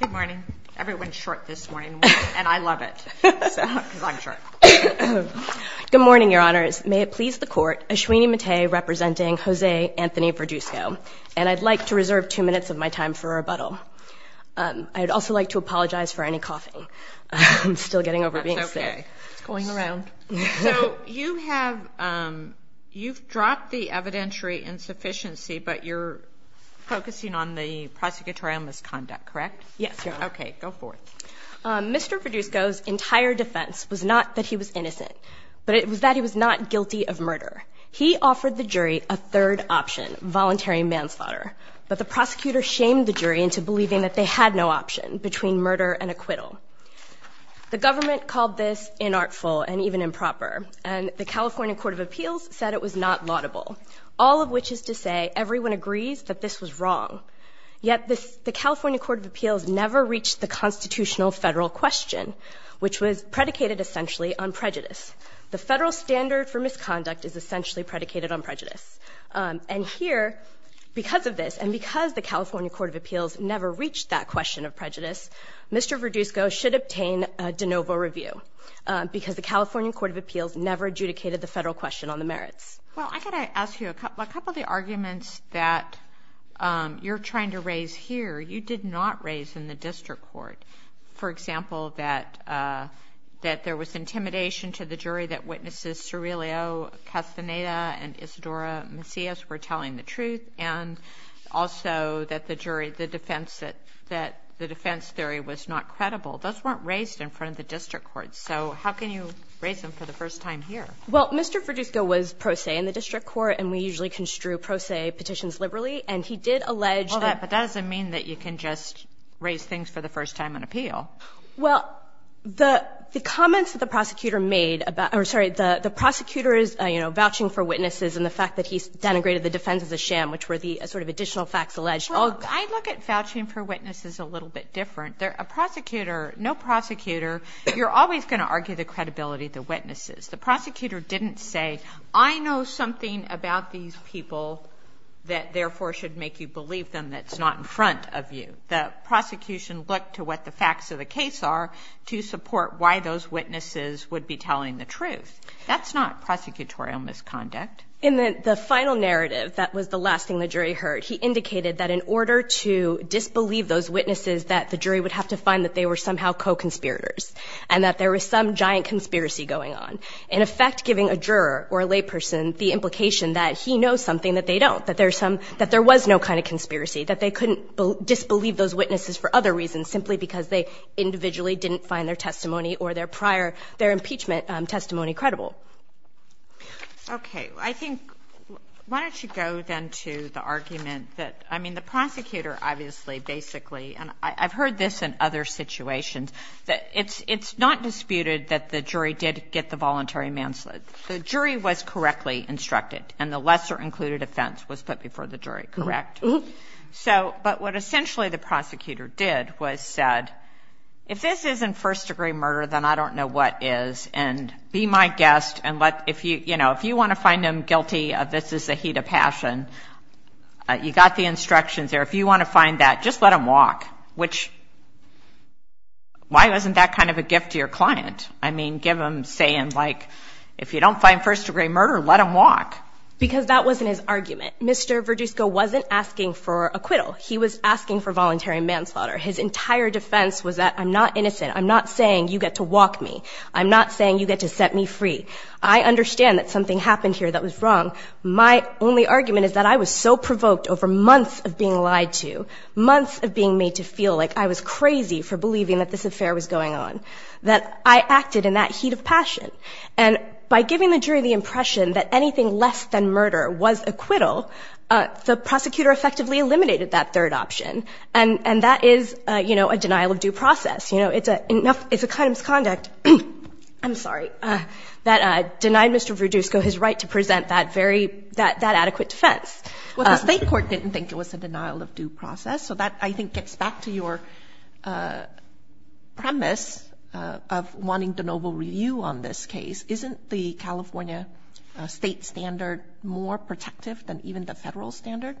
Good morning. Everyone's short this morning, and I love it, because I'm short. Good morning, Your Honors. May it please the Court, Ashwini Mate representing Jose Anthony Verduzco, and I'd like to reserve two minutes of my time for rebuttal. I'd also like to apologize for any coughing. I'm still getting over being sick. That's okay. It's going around. So you have, you've dropped the evidentiary insufficiency, but you're focusing on the prosecutorial misconduct, correct? Yes, Your Honor. Okay, go for it. Mr. Verduzco's entire defense was not that he was innocent, but it was that he was not guilty of murder. He offered the jury a third option, voluntary manslaughter, but the prosecutor shamed the jury into believing that they had no option between murder and acquittal. The government called this inartful and even improper, and the California Court of Appeals said it was not laudable, all of which is to say everyone agrees that this was wrong. Yet the California Court of Appeals never reached the constitutional federal question, which was predicated essentially on prejudice. The federal standard for misconduct is essentially predicated on prejudice. And here, because of this, and because the California Court of Appeals never reached that question of prejudice, Mr. Verduzco should obtain a de federal question on the merits. Well, I've got to ask you a couple of the arguments that you're trying to raise here you did not raise in the district court. For example, that there was intimidation to the jury that witnesses Cirilio Castaneda and Isadora Macias were telling the truth, and also that the defense theory was not credible. Those weren't raised in front of the district court, so how can you raise them for the first time here? Well, Mr. Verduzco was pro se in the district court, and we usually construe pro se petitions liberally. And he did allege that the ---- Well, but that doesn't mean that you can just raise things for the first time in appeal. Well, the comments that the prosecutor made about or sorry, the prosecutor is, you know, vouching for witnesses and the fact that he denigrated the defense as a sham, which were the sort of additional facts alleged. Well, I look at vouching for witnesses a little bit different. A prosecutor, no prosecutor, you're always going to argue the credibility of the witnesses. The prosecutor didn't say, I know something about these people that therefore should make you believe them that's not in front of you. The prosecution looked to what the facts of the case are to support why those witnesses would be telling the truth. That's not prosecutorial misconduct. In the final narrative, that was the last thing the jury heard, he indicated that in order to disbelieve those witnesses, that the jury would have to find that they were somehow co-conspirators and that there was some giant conspiracy going on. In effect, giving a juror or a layperson the implication that he knows something that they don't, that there's some, that there was no kind of conspiracy, that they couldn't disbelieve those witnesses for other reasons simply because they individually didn't find their testimony or their prior, their impeachment testimony credible. Okay. I think, why don't you go then to the argument that, I mean, the prosecutor obviously basically, and I've heard this in other situations, that it's not disputed that the jury did get the voluntary manslaughter. The jury was correctly instructed, and the lesser included offense was put before the jury, correct? Mm-hmm. So, but what essentially the prosecutor did was said, if this isn't first degree murder, then I don't know what is, and be my guest, and let, if you, you know, if you want to find him guilty of this is the heat of passion, you got the instructions there, if you want to find that, just let him walk, which, why wasn't that kind of a gift to your client? I mean, give him saying, like, if you don't find first degree murder, let him walk. Because that wasn't his argument. Mr. Verdusco wasn't asking for acquittal. He was asking for voluntary manslaughter. His entire defense was that, I'm not innocent. I'm not saying you get to walk me. I'm not saying you get to set me free. I understand that something happened here that was wrong. My only argument is that I was so provoked over months of being lied to, months of being made to feel like I was crazy for believing that this affair was going on, that I acted in that heat of passion. And by giving the jury the impression that anything less than murder was acquittal, the prosecutor effectively eliminated that third option, and that is, you know, a denial of due process. You know, it's a, it's a kind of conduct, I'm sorry, that denied Mr. Verdusco his right to present that very, that adequate defense. Well, the State Court didn't think it was a denial of due process, so that, I think, gets back to your premise of wanting de novo review on this case. Isn't the California state standard more protective than even the federal standard?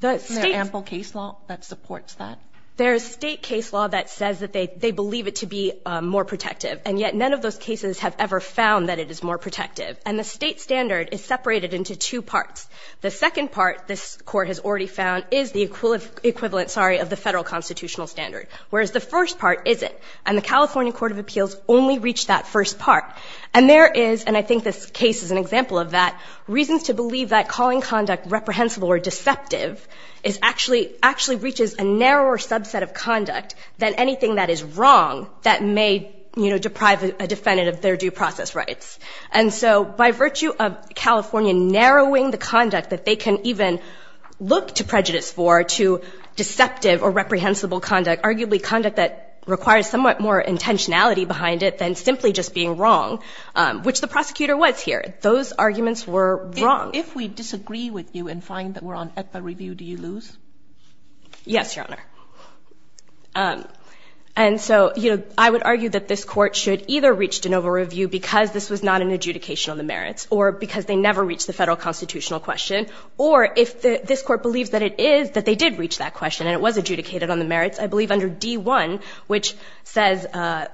The State's Is there ample case law that supports that? There is state case law that says that they, they believe it to be more protective, and yet none of those cases have ever found that it is more protective. And the state standard is separated into two parts. The second part, this Court has already found, is the equivalent, sorry, of the federal constitutional standard, whereas the first part isn't. And the California Court of Appeals only reached that first part. And there is, and I think this case is an example of that, reasons to believe that calling conduct reprehensible or deceptive is actually, actually reaches a narrower subset of conduct than anything that is wrong that may, you know, deprive a defendant of their due process rights. And so by virtue of California narrowing the conduct that they can even look to prejudice for to deceptive or reprehensible conduct, arguably conduct that requires somewhat more intentionality behind it than simply just being wrong, which the prosecutor was here, those arguments were wrong. If we disagree with you and find that we're on ECPA review, do you lose? Yes, Your Honor. And so, you know, I would argue that this Court should either reach de novo review because this was not an adjudication of the merits or because they never reached the federal constitutional question, or if this Court believes that it is, that they did reach that question and it was adjudicated on the merits, I believe under D-1, which says,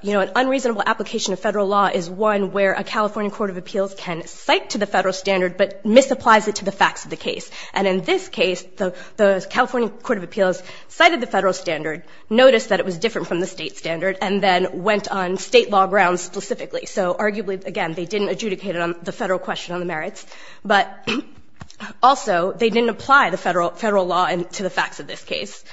you know, an unreasonable application of federal law is one where a California Court of Appeals can cite to the federal standard but misapplies it to the facts of the case. And in this case, the California Court of Appeals cited the federal standard, noticed that it was different from the State standard, and then went on State law grounds specifically. So arguably, again, they didn't adjudicate it on the federal question on the merits, but also they didn't apply the federal law to the facts of this case.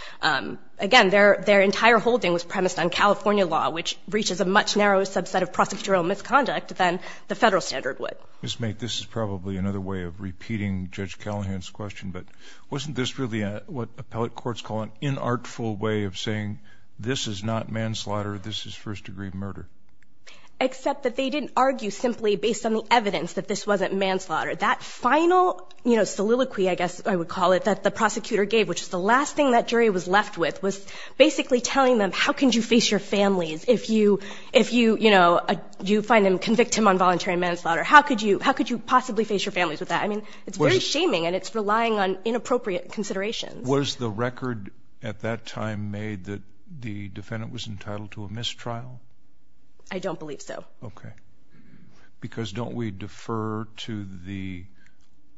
Again, their entire holding was premised on California law, which reaches a much narrower subset of prosecutorial misconduct than the federal standard would. Ms. Mait, this is probably another way of repeating Judge Callahan's question, but wasn't this really what appellate courts call an inartful way of saying this is not manslaughter, this is first-degree murder? Except that they didn't argue simply based on the evidence that this wasn't manslaughter. That final, you know, soliloquy, I guess I would call it, that the prosecutor gave, which is the last thing that jury was left with, was basically telling them, how can you face your families if you, you know, you find them convicted of involuntary manslaughter? How could you possibly face your families with that? I mean, it's very shaming and it's relying on inappropriate considerations. Was the record at that time made that the defendant was entitled to a mistrial? I don't believe so. Okay. Because don't we defer to the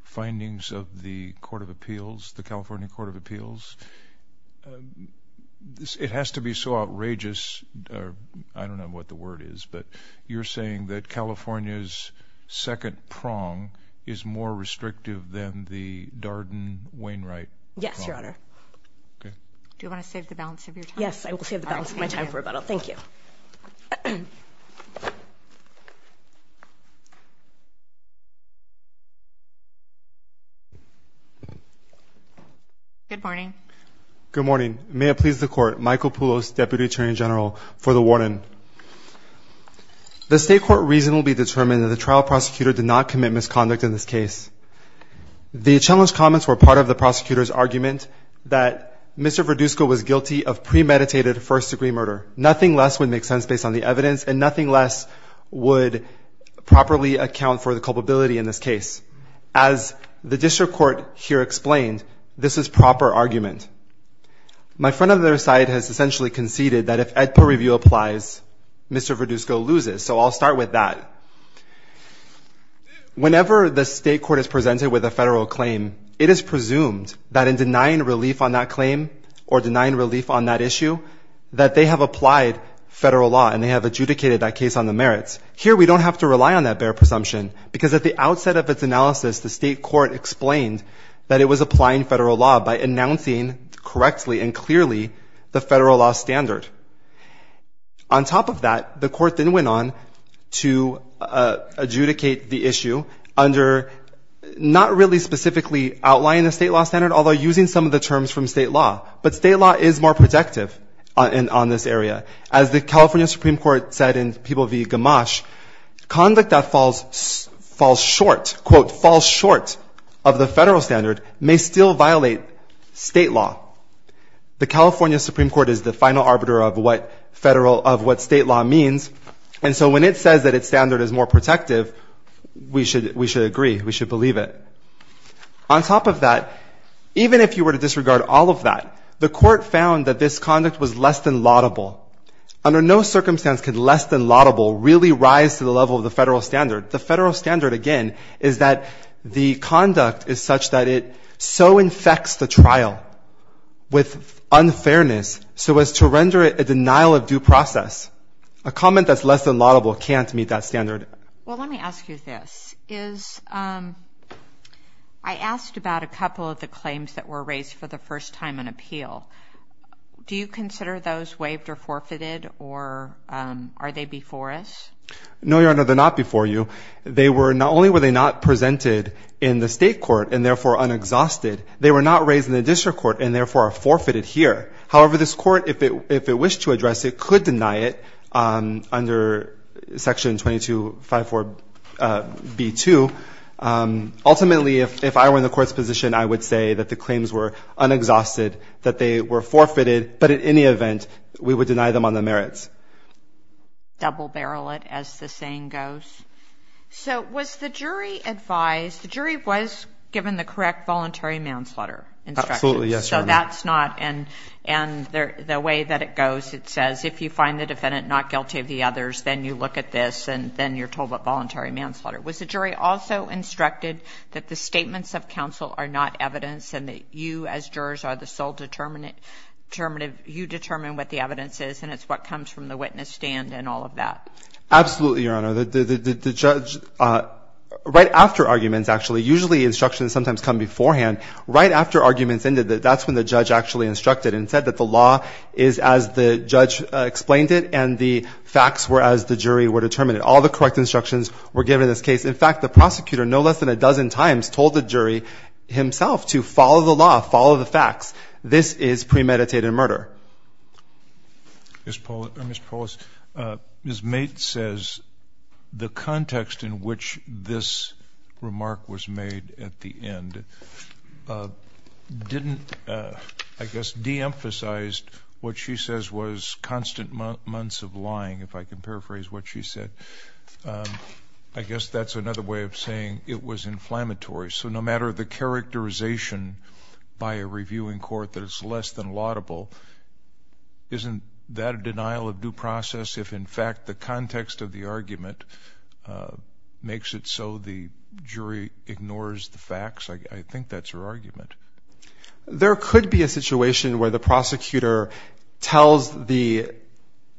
findings of the Court of Appeals, the California Court of Appeals? It has to be so outrageous, I don't know what the word is, but you're saying that California's second prong is more restrictive than the Darden-Wainwright prong? Yes, Your Honor. Okay. Do you want to save the balance of your time? Yes, I will save the balance of my time for rebuttal. Thank you. Good morning. Good morning. May it please the Court, Michael Poulos, Deputy Attorney General, for the warning. The State Court reason will be determined that the trial prosecutor did not commit misconduct in this case. The challenged comments were part of the prosecutor's argument that Mr. Verduzco was guilty of premeditated first-degree murder. Nothing less would make sense based on the evidence, and nothing less would properly account for the culpability in this case. As the District Court here explained, this is proper argument. My friend on the other side has essentially conceded that if AEDPA review applies, Mr. Verduzco loses, so I'll start with that. Whenever the State Court is presented with a federal claim, it is presumed that in denying relief on that claim or denying relief on that issue, that they have applied federal law and they have adjudicated that case on the merits. Here we don't have to rely on that bare presumption, because at the outset of its analysis, the State Court explained that it was applying federal law by announcing correctly and clearly the federal law standard. On top of that, the Court then went on to adjudicate the issue under not really specifically outlining the state law standard, although using some of the terms from state law. But state law is more protective on this area. As the California Supreme Court said in People v. Gamache, conduct that falls short, quote, falls short of the federal standard, may still violate state law. The California Supreme Court is the final arbiter of what state law means, and so when it says that its standard is more than laudable, even if you were to disregard all of that, the Court found that this conduct was less than laudable. Under no circumstance could less than laudable really rise to the level of the federal standard. The federal standard, again, is that the conduct is such that it so infects the trial with unfairness so as to render it a denial of due process. A comment that's less than laudable can't meet that standard. Well, let me ask you this. Is — I asked about a couple of the claims that were raised for the first time in appeal. Do you consider those waived or forfeited, or are they before us? No, Your Honor, they're not before you. They were — not only were they not presented in the state court and, therefore, unexhausted, they were not raised in the district court and, therefore, are forfeited here. However, this court, if it wished to address it, could deny it under Section 22.1 of the Federal Code, Section 5.4.B.2. Ultimately, if I were in the Court's position, I would say that the claims were unexhausted, that they were forfeited, but at any event we would deny them on the merits. Double-barrel it, as the saying goes. So was the jury advised — the jury was given the correct voluntary manslaughter instructions. Absolutely, yes, Your Honor. So that's not — and the way that it goes, it says if you find the defendant not guilty of the others, then you look at this, and then you're told about voluntary manslaughter. Was the jury also instructed that the statements of counsel are not evidence and that you as jurors are the sole determinative — you determine what the evidence is, and it's what comes from the witness stand and all of that? Absolutely, Your Honor. The judge — right after arguments, actually, usually instructions sometimes come beforehand. Right after arguments ended, that's when the judge actually instructed and said that the law is as the judge explained it and the facts were as the jury were determined. All the correct instructions were given in this case. In fact, the prosecutor no less than a dozen times told the jury himself to follow the law, follow the facts. This is premeditated murder. Ms. Polis, Ms. Mate says the context in which this remark was made at the end didn't, I guess, deemphasize what she says was constant months of lying, if I can paraphrase what she said. I guess that's another way of saying it was inflammatory. So no matter the characterization by a review in court that it's less than laudable, isn't that a denial of due process if in fact the context of the argument makes it so the jury ignores the facts? I think that's her argument. There could be a situation where the prosecutor tells the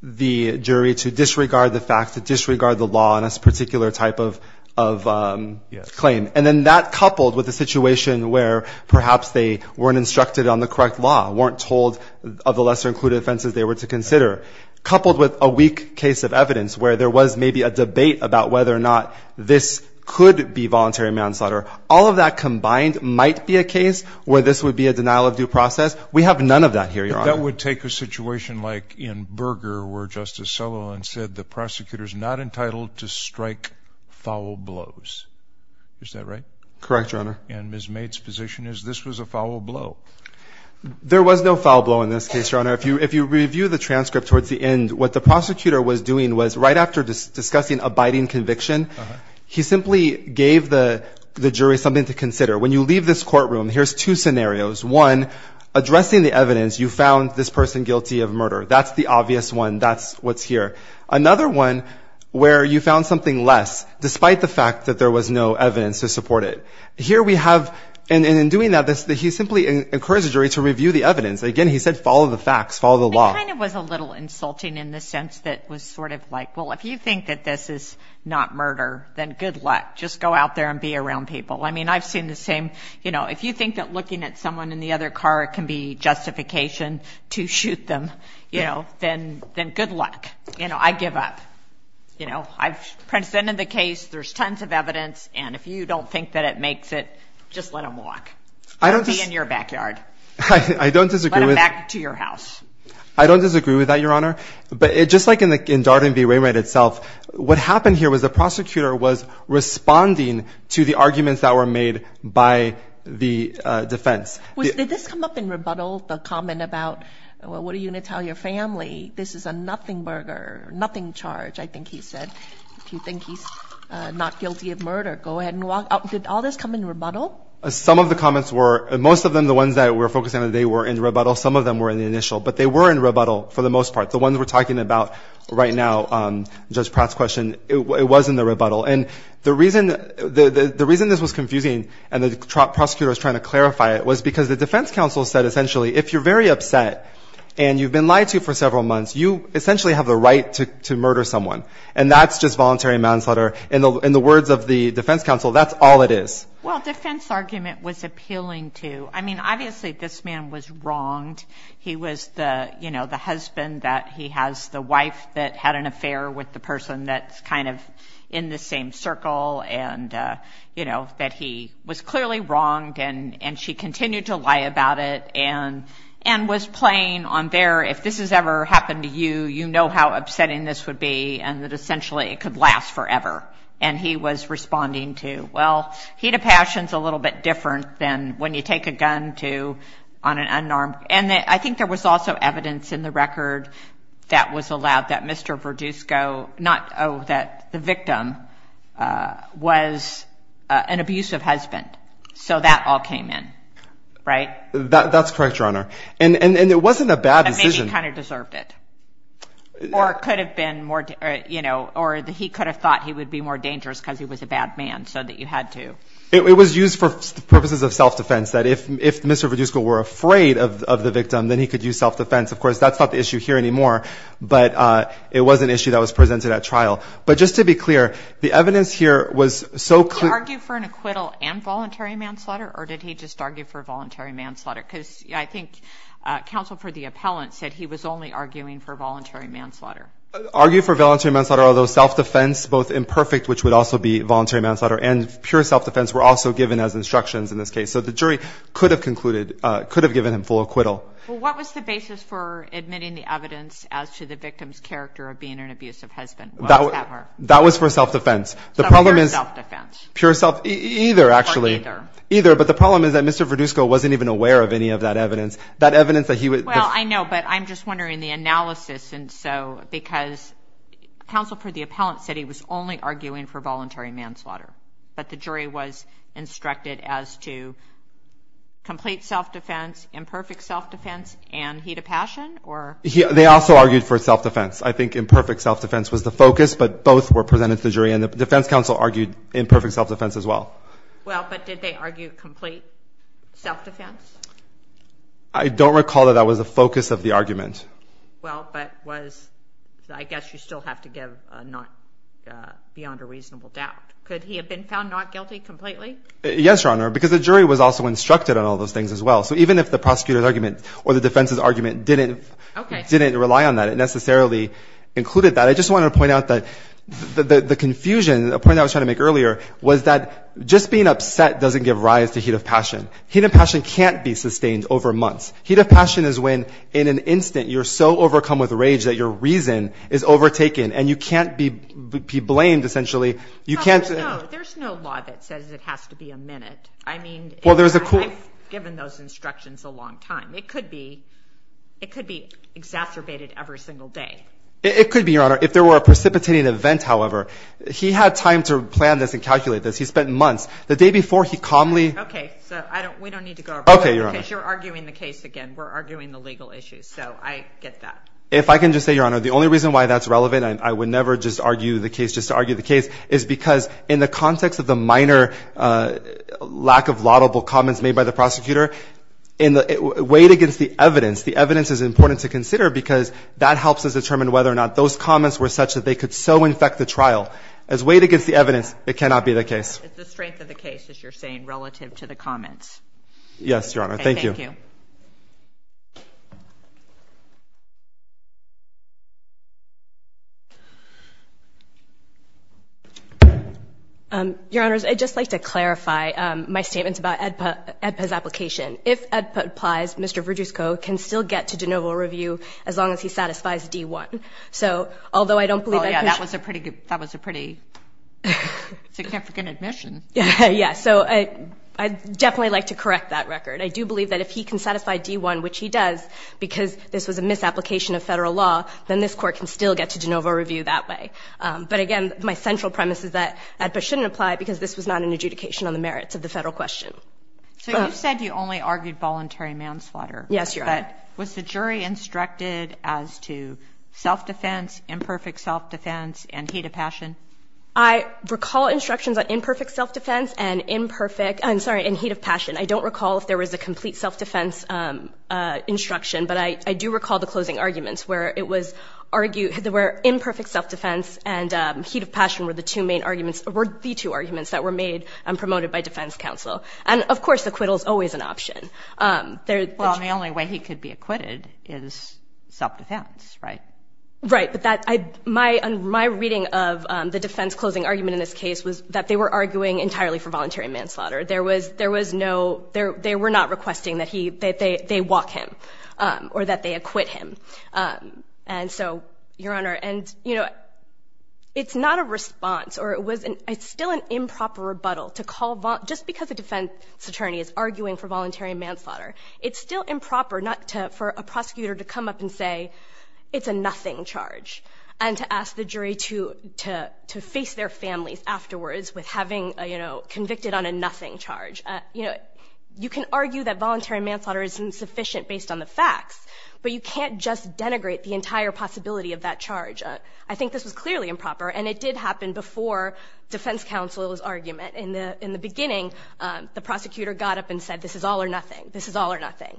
jury to disregard the facts, to disregard the law in this particular type of claim. And then that coupled with the situation where perhaps they weren't instructed on the correct law, weren't told of the lesser-included offenses they were to consider, coupled with a where there was maybe a debate about whether or not this could be voluntary manslaughter, all of that combined might be a case where this would be a denial of due process. We have none of that here, Your Honor. But that would take a situation like in Berger where Justice Sullivan said the prosecutor's not entitled to strike foul blows. Is that right? Correct, Your Honor. And Ms. Mate's position is this was a foul blow. There was no foul blow in this case, Your Honor. If you review the transcript towards the end, what the prosecutor was doing was right after discussing abiding conviction, he simply gave the jury something to consider. When you leave this courtroom, here's two scenarios. One, addressing the evidence, you found this person guilty of murder. That's the obvious one. That's what's here. Another one where you found something less, despite the fact that there was no evidence to support it. Here we have, and in doing that, he simply encouraged the jury to review the evidence. Again, he said follow the facts, follow the law. It kind of was a little insulting in the sense that it was sort of like, well, if you think that this is not murder, then good luck. Just go out there and be around people. I mean, I've seen the same. You know, if you think that looking at someone in the other car can be justification to shoot them, you know, then good luck. You know, I give up. You know, I've presented the case. There's tons of evidence. And if you don't think that it makes it, just let them walk. I don't disagree. Be in your backyard. I don't disagree. Back to your house. I don't disagree with that, Your Honor. But just like in Darden v. Wainwright itself, what happened here was the prosecutor was responding to the arguments that were made by the defense. Did this come up in rebuttal, the comment about, well, what are you going to tell your family? This is a nothing burger, nothing charge, I think he said. If you think he's not guilty of murder, go ahead and walk out. Did all this come in rebuttal? Some of the comments were, most of them, the ones that we're focusing on today were in rebuttal. Some of them were in the initial. But they were in rebuttal for the most part. The ones we're talking about right now, Judge Pratt's question, it was in the rebuttal. And the reason this was confusing and the prosecutor was trying to clarify it was because the defense counsel said essentially if you're very upset and you've been lied to for several months, you essentially have the right to murder someone. And that's just voluntary manslaughter. In the words of the defense counsel, that's all it is. Well, defense argument was appealing to. I mean, obviously this man was wronged. He was, you know, the husband that he has, the wife that had an affair with the person that's kind of in the same circle and, you know, that he was clearly wronged and she continued to lie about it and was playing on their, if this has ever happened to you, you know how upsetting this would be and that essentially it could last forever. And he was responding to, well, heat of passion is a little bit different than when you take a gun to on an unarmed. And I think there was also evidence in the record that was allowed that Mr. Verdusco, not that the victim, was an abusive husband. So that all came in, right? That's correct, Your Honor. And it wasn't a bad decision. Maybe he kind of deserved it. Or it could have been more, you know, or he could have thought he would be more dangerous because he was a bad man so that you had to. It was used for purposes of self-defense, that if Mr. Verdusco were afraid of the victim, then he could use self-defense. Of course, that's not the issue here anymore, but it was an issue that was presented at trial. But just to be clear, the evidence here was so clear. Did he argue for an acquittal and voluntary manslaughter or did he just argue for voluntary manslaughter? Because I think counsel for the appellant said he was only arguing for voluntary manslaughter. Argued for voluntary manslaughter, although self-defense, both imperfect, which would also be voluntary manslaughter, and pure self-defense were also given as instructions in this case. So the jury could have concluded, could have given him full acquittal. Well, what was the basis for admitting the evidence as to the victim's character of being an abusive husband? That was for self-defense. So pure self-defense. Pure self-defense. Either, actually. Either. But the problem is that Mr. Verdusco wasn't even aware of any of that evidence. That evidence that he was. Well, I know, but I'm just wondering the analysis. Because counsel for the appellant said he was only arguing for voluntary manslaughter. But the jury was instructed as to complete self-defense, imperfect self-defense, and heat of passion? They also argued for self-defense. I think imperfect self-defense was the focus, but both were presented to the jury. And the defense counsel argued imperfect self-defense as well. Well, but did they argue complete self-defense? I don't recall that that was the focus of the argument. Well, but I guess you still have to give beyond a reasonable doubt. Could he have been found not guilty completely? Yes, Your Honor, because the jury was also instructed on all those things as well. So even if the prosecutor's argument or the defense's argument didn't rely on that, it necessarily included that. I just wanted to point out that the confusion, a point I was trying to make earlier, was that just being upset doesn't give rise to heat of passion. Heat of passion can't be sustained over months. Heat of passion is when, in an instant, you're so overcome with rage that your reason is overtaken and you can't be blamed, essentially. No, there's no law that says it has to be a minute. I mean, I've given those instructions a long time. It could be exacerbated every single day. It could be, Your Honor, if there were a precipitating event, however. He had time to plan this and calculate this. He spent months. The day before, he calmly— Okay, so we don't need to go over it. Okay, Your Honor. Because you're arguing the case again. We're arguing the legal issues. So I get that. If I can just say, Your Honor, the only reason why that's relevant, and I would never just argue the case just to argue the case, is because in the context of the minor lack of laudable comments made by the prosecutor, weighed against the evidence, the evidence is important to consider because that helps us determine whether or not those comments were such that they could so infect the trial. As weighed against the evidence, it cannot be the case. It's the strength of the case, as you're saying, relative to the comments. Yes, Your Honor. Okay, thank you. Your Honors, I'd just like to clarify my statements about AEDPA's application. If AEDPA applies, Mr. Verjusco can still get to de novo review as long as he satisfies D-1. So although I don't believe that— Oh, yeah, that was a pretty—that was a pretty significant admission. Yeah, so I'd definitely like to correct that record. I do believe that if he can satisfy D-1, which he does, because this was a misapplication of Federal law, then this Court can still get to de novo review that way. But again, my central premise is that AEDPA shouldn't apply because this was not an adjudication on the merits of the Federal question. So you said you only argued voluntary manslaughter. Yes, Your Honor. But was the jury instructed as to self-defense, imperfect self-defense, and heat of passion? I recall instructions on imperfect self-defense and imperfect—I'm sorry, and heat of passion. I don't recall if there was a complete self-defense instruction, but I do recall the closing arguments where it was argued— where imperfect self-defense and heat of passion were the two main arguments— were the two arguments that were made and promoted by defense counsel. And, of course, acquittal is always an option. Well, and the only way he could be acquitted is self-defense, right? Right. But my reading of the defense closing argument in this case was that they were arguing entirely for voluntary manslaughter. There was no—they were not requesting that they walk him or that they acquit him. And so, Your Honor, and, you know, it's not a response, or it's still an improper rebuttal to call— just because a defense attorney is arguing for voluntary manslaughter, it's still improper not to—for a prosecutor to come up and say it's a nothing charge and to ask the jury to face their families afterwards with having, you know, convicted on a nothing charge. You know, you can argue that voluntary manslaughter is insufficient based on the facts, but you can't just denigrate the entire possibility of that charge. I think this was clearly improper, and it did happen before defense counsel's argument. In the beginning, the prosecutor got up and said, This is all or nothing. This is all or nothing.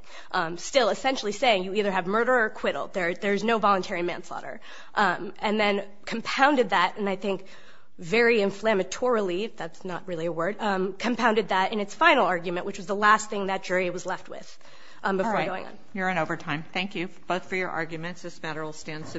Still essentially saying you either have murder or acquittal. There is no voluntary manslaughter. And then compounded that, and I think very inflammatory—that's not really a word— compounded that in its final argument, which was the last thing that jury was left with. All right. You're in overtime. Thank you both for your arguments. This matter will stand subpoenaed.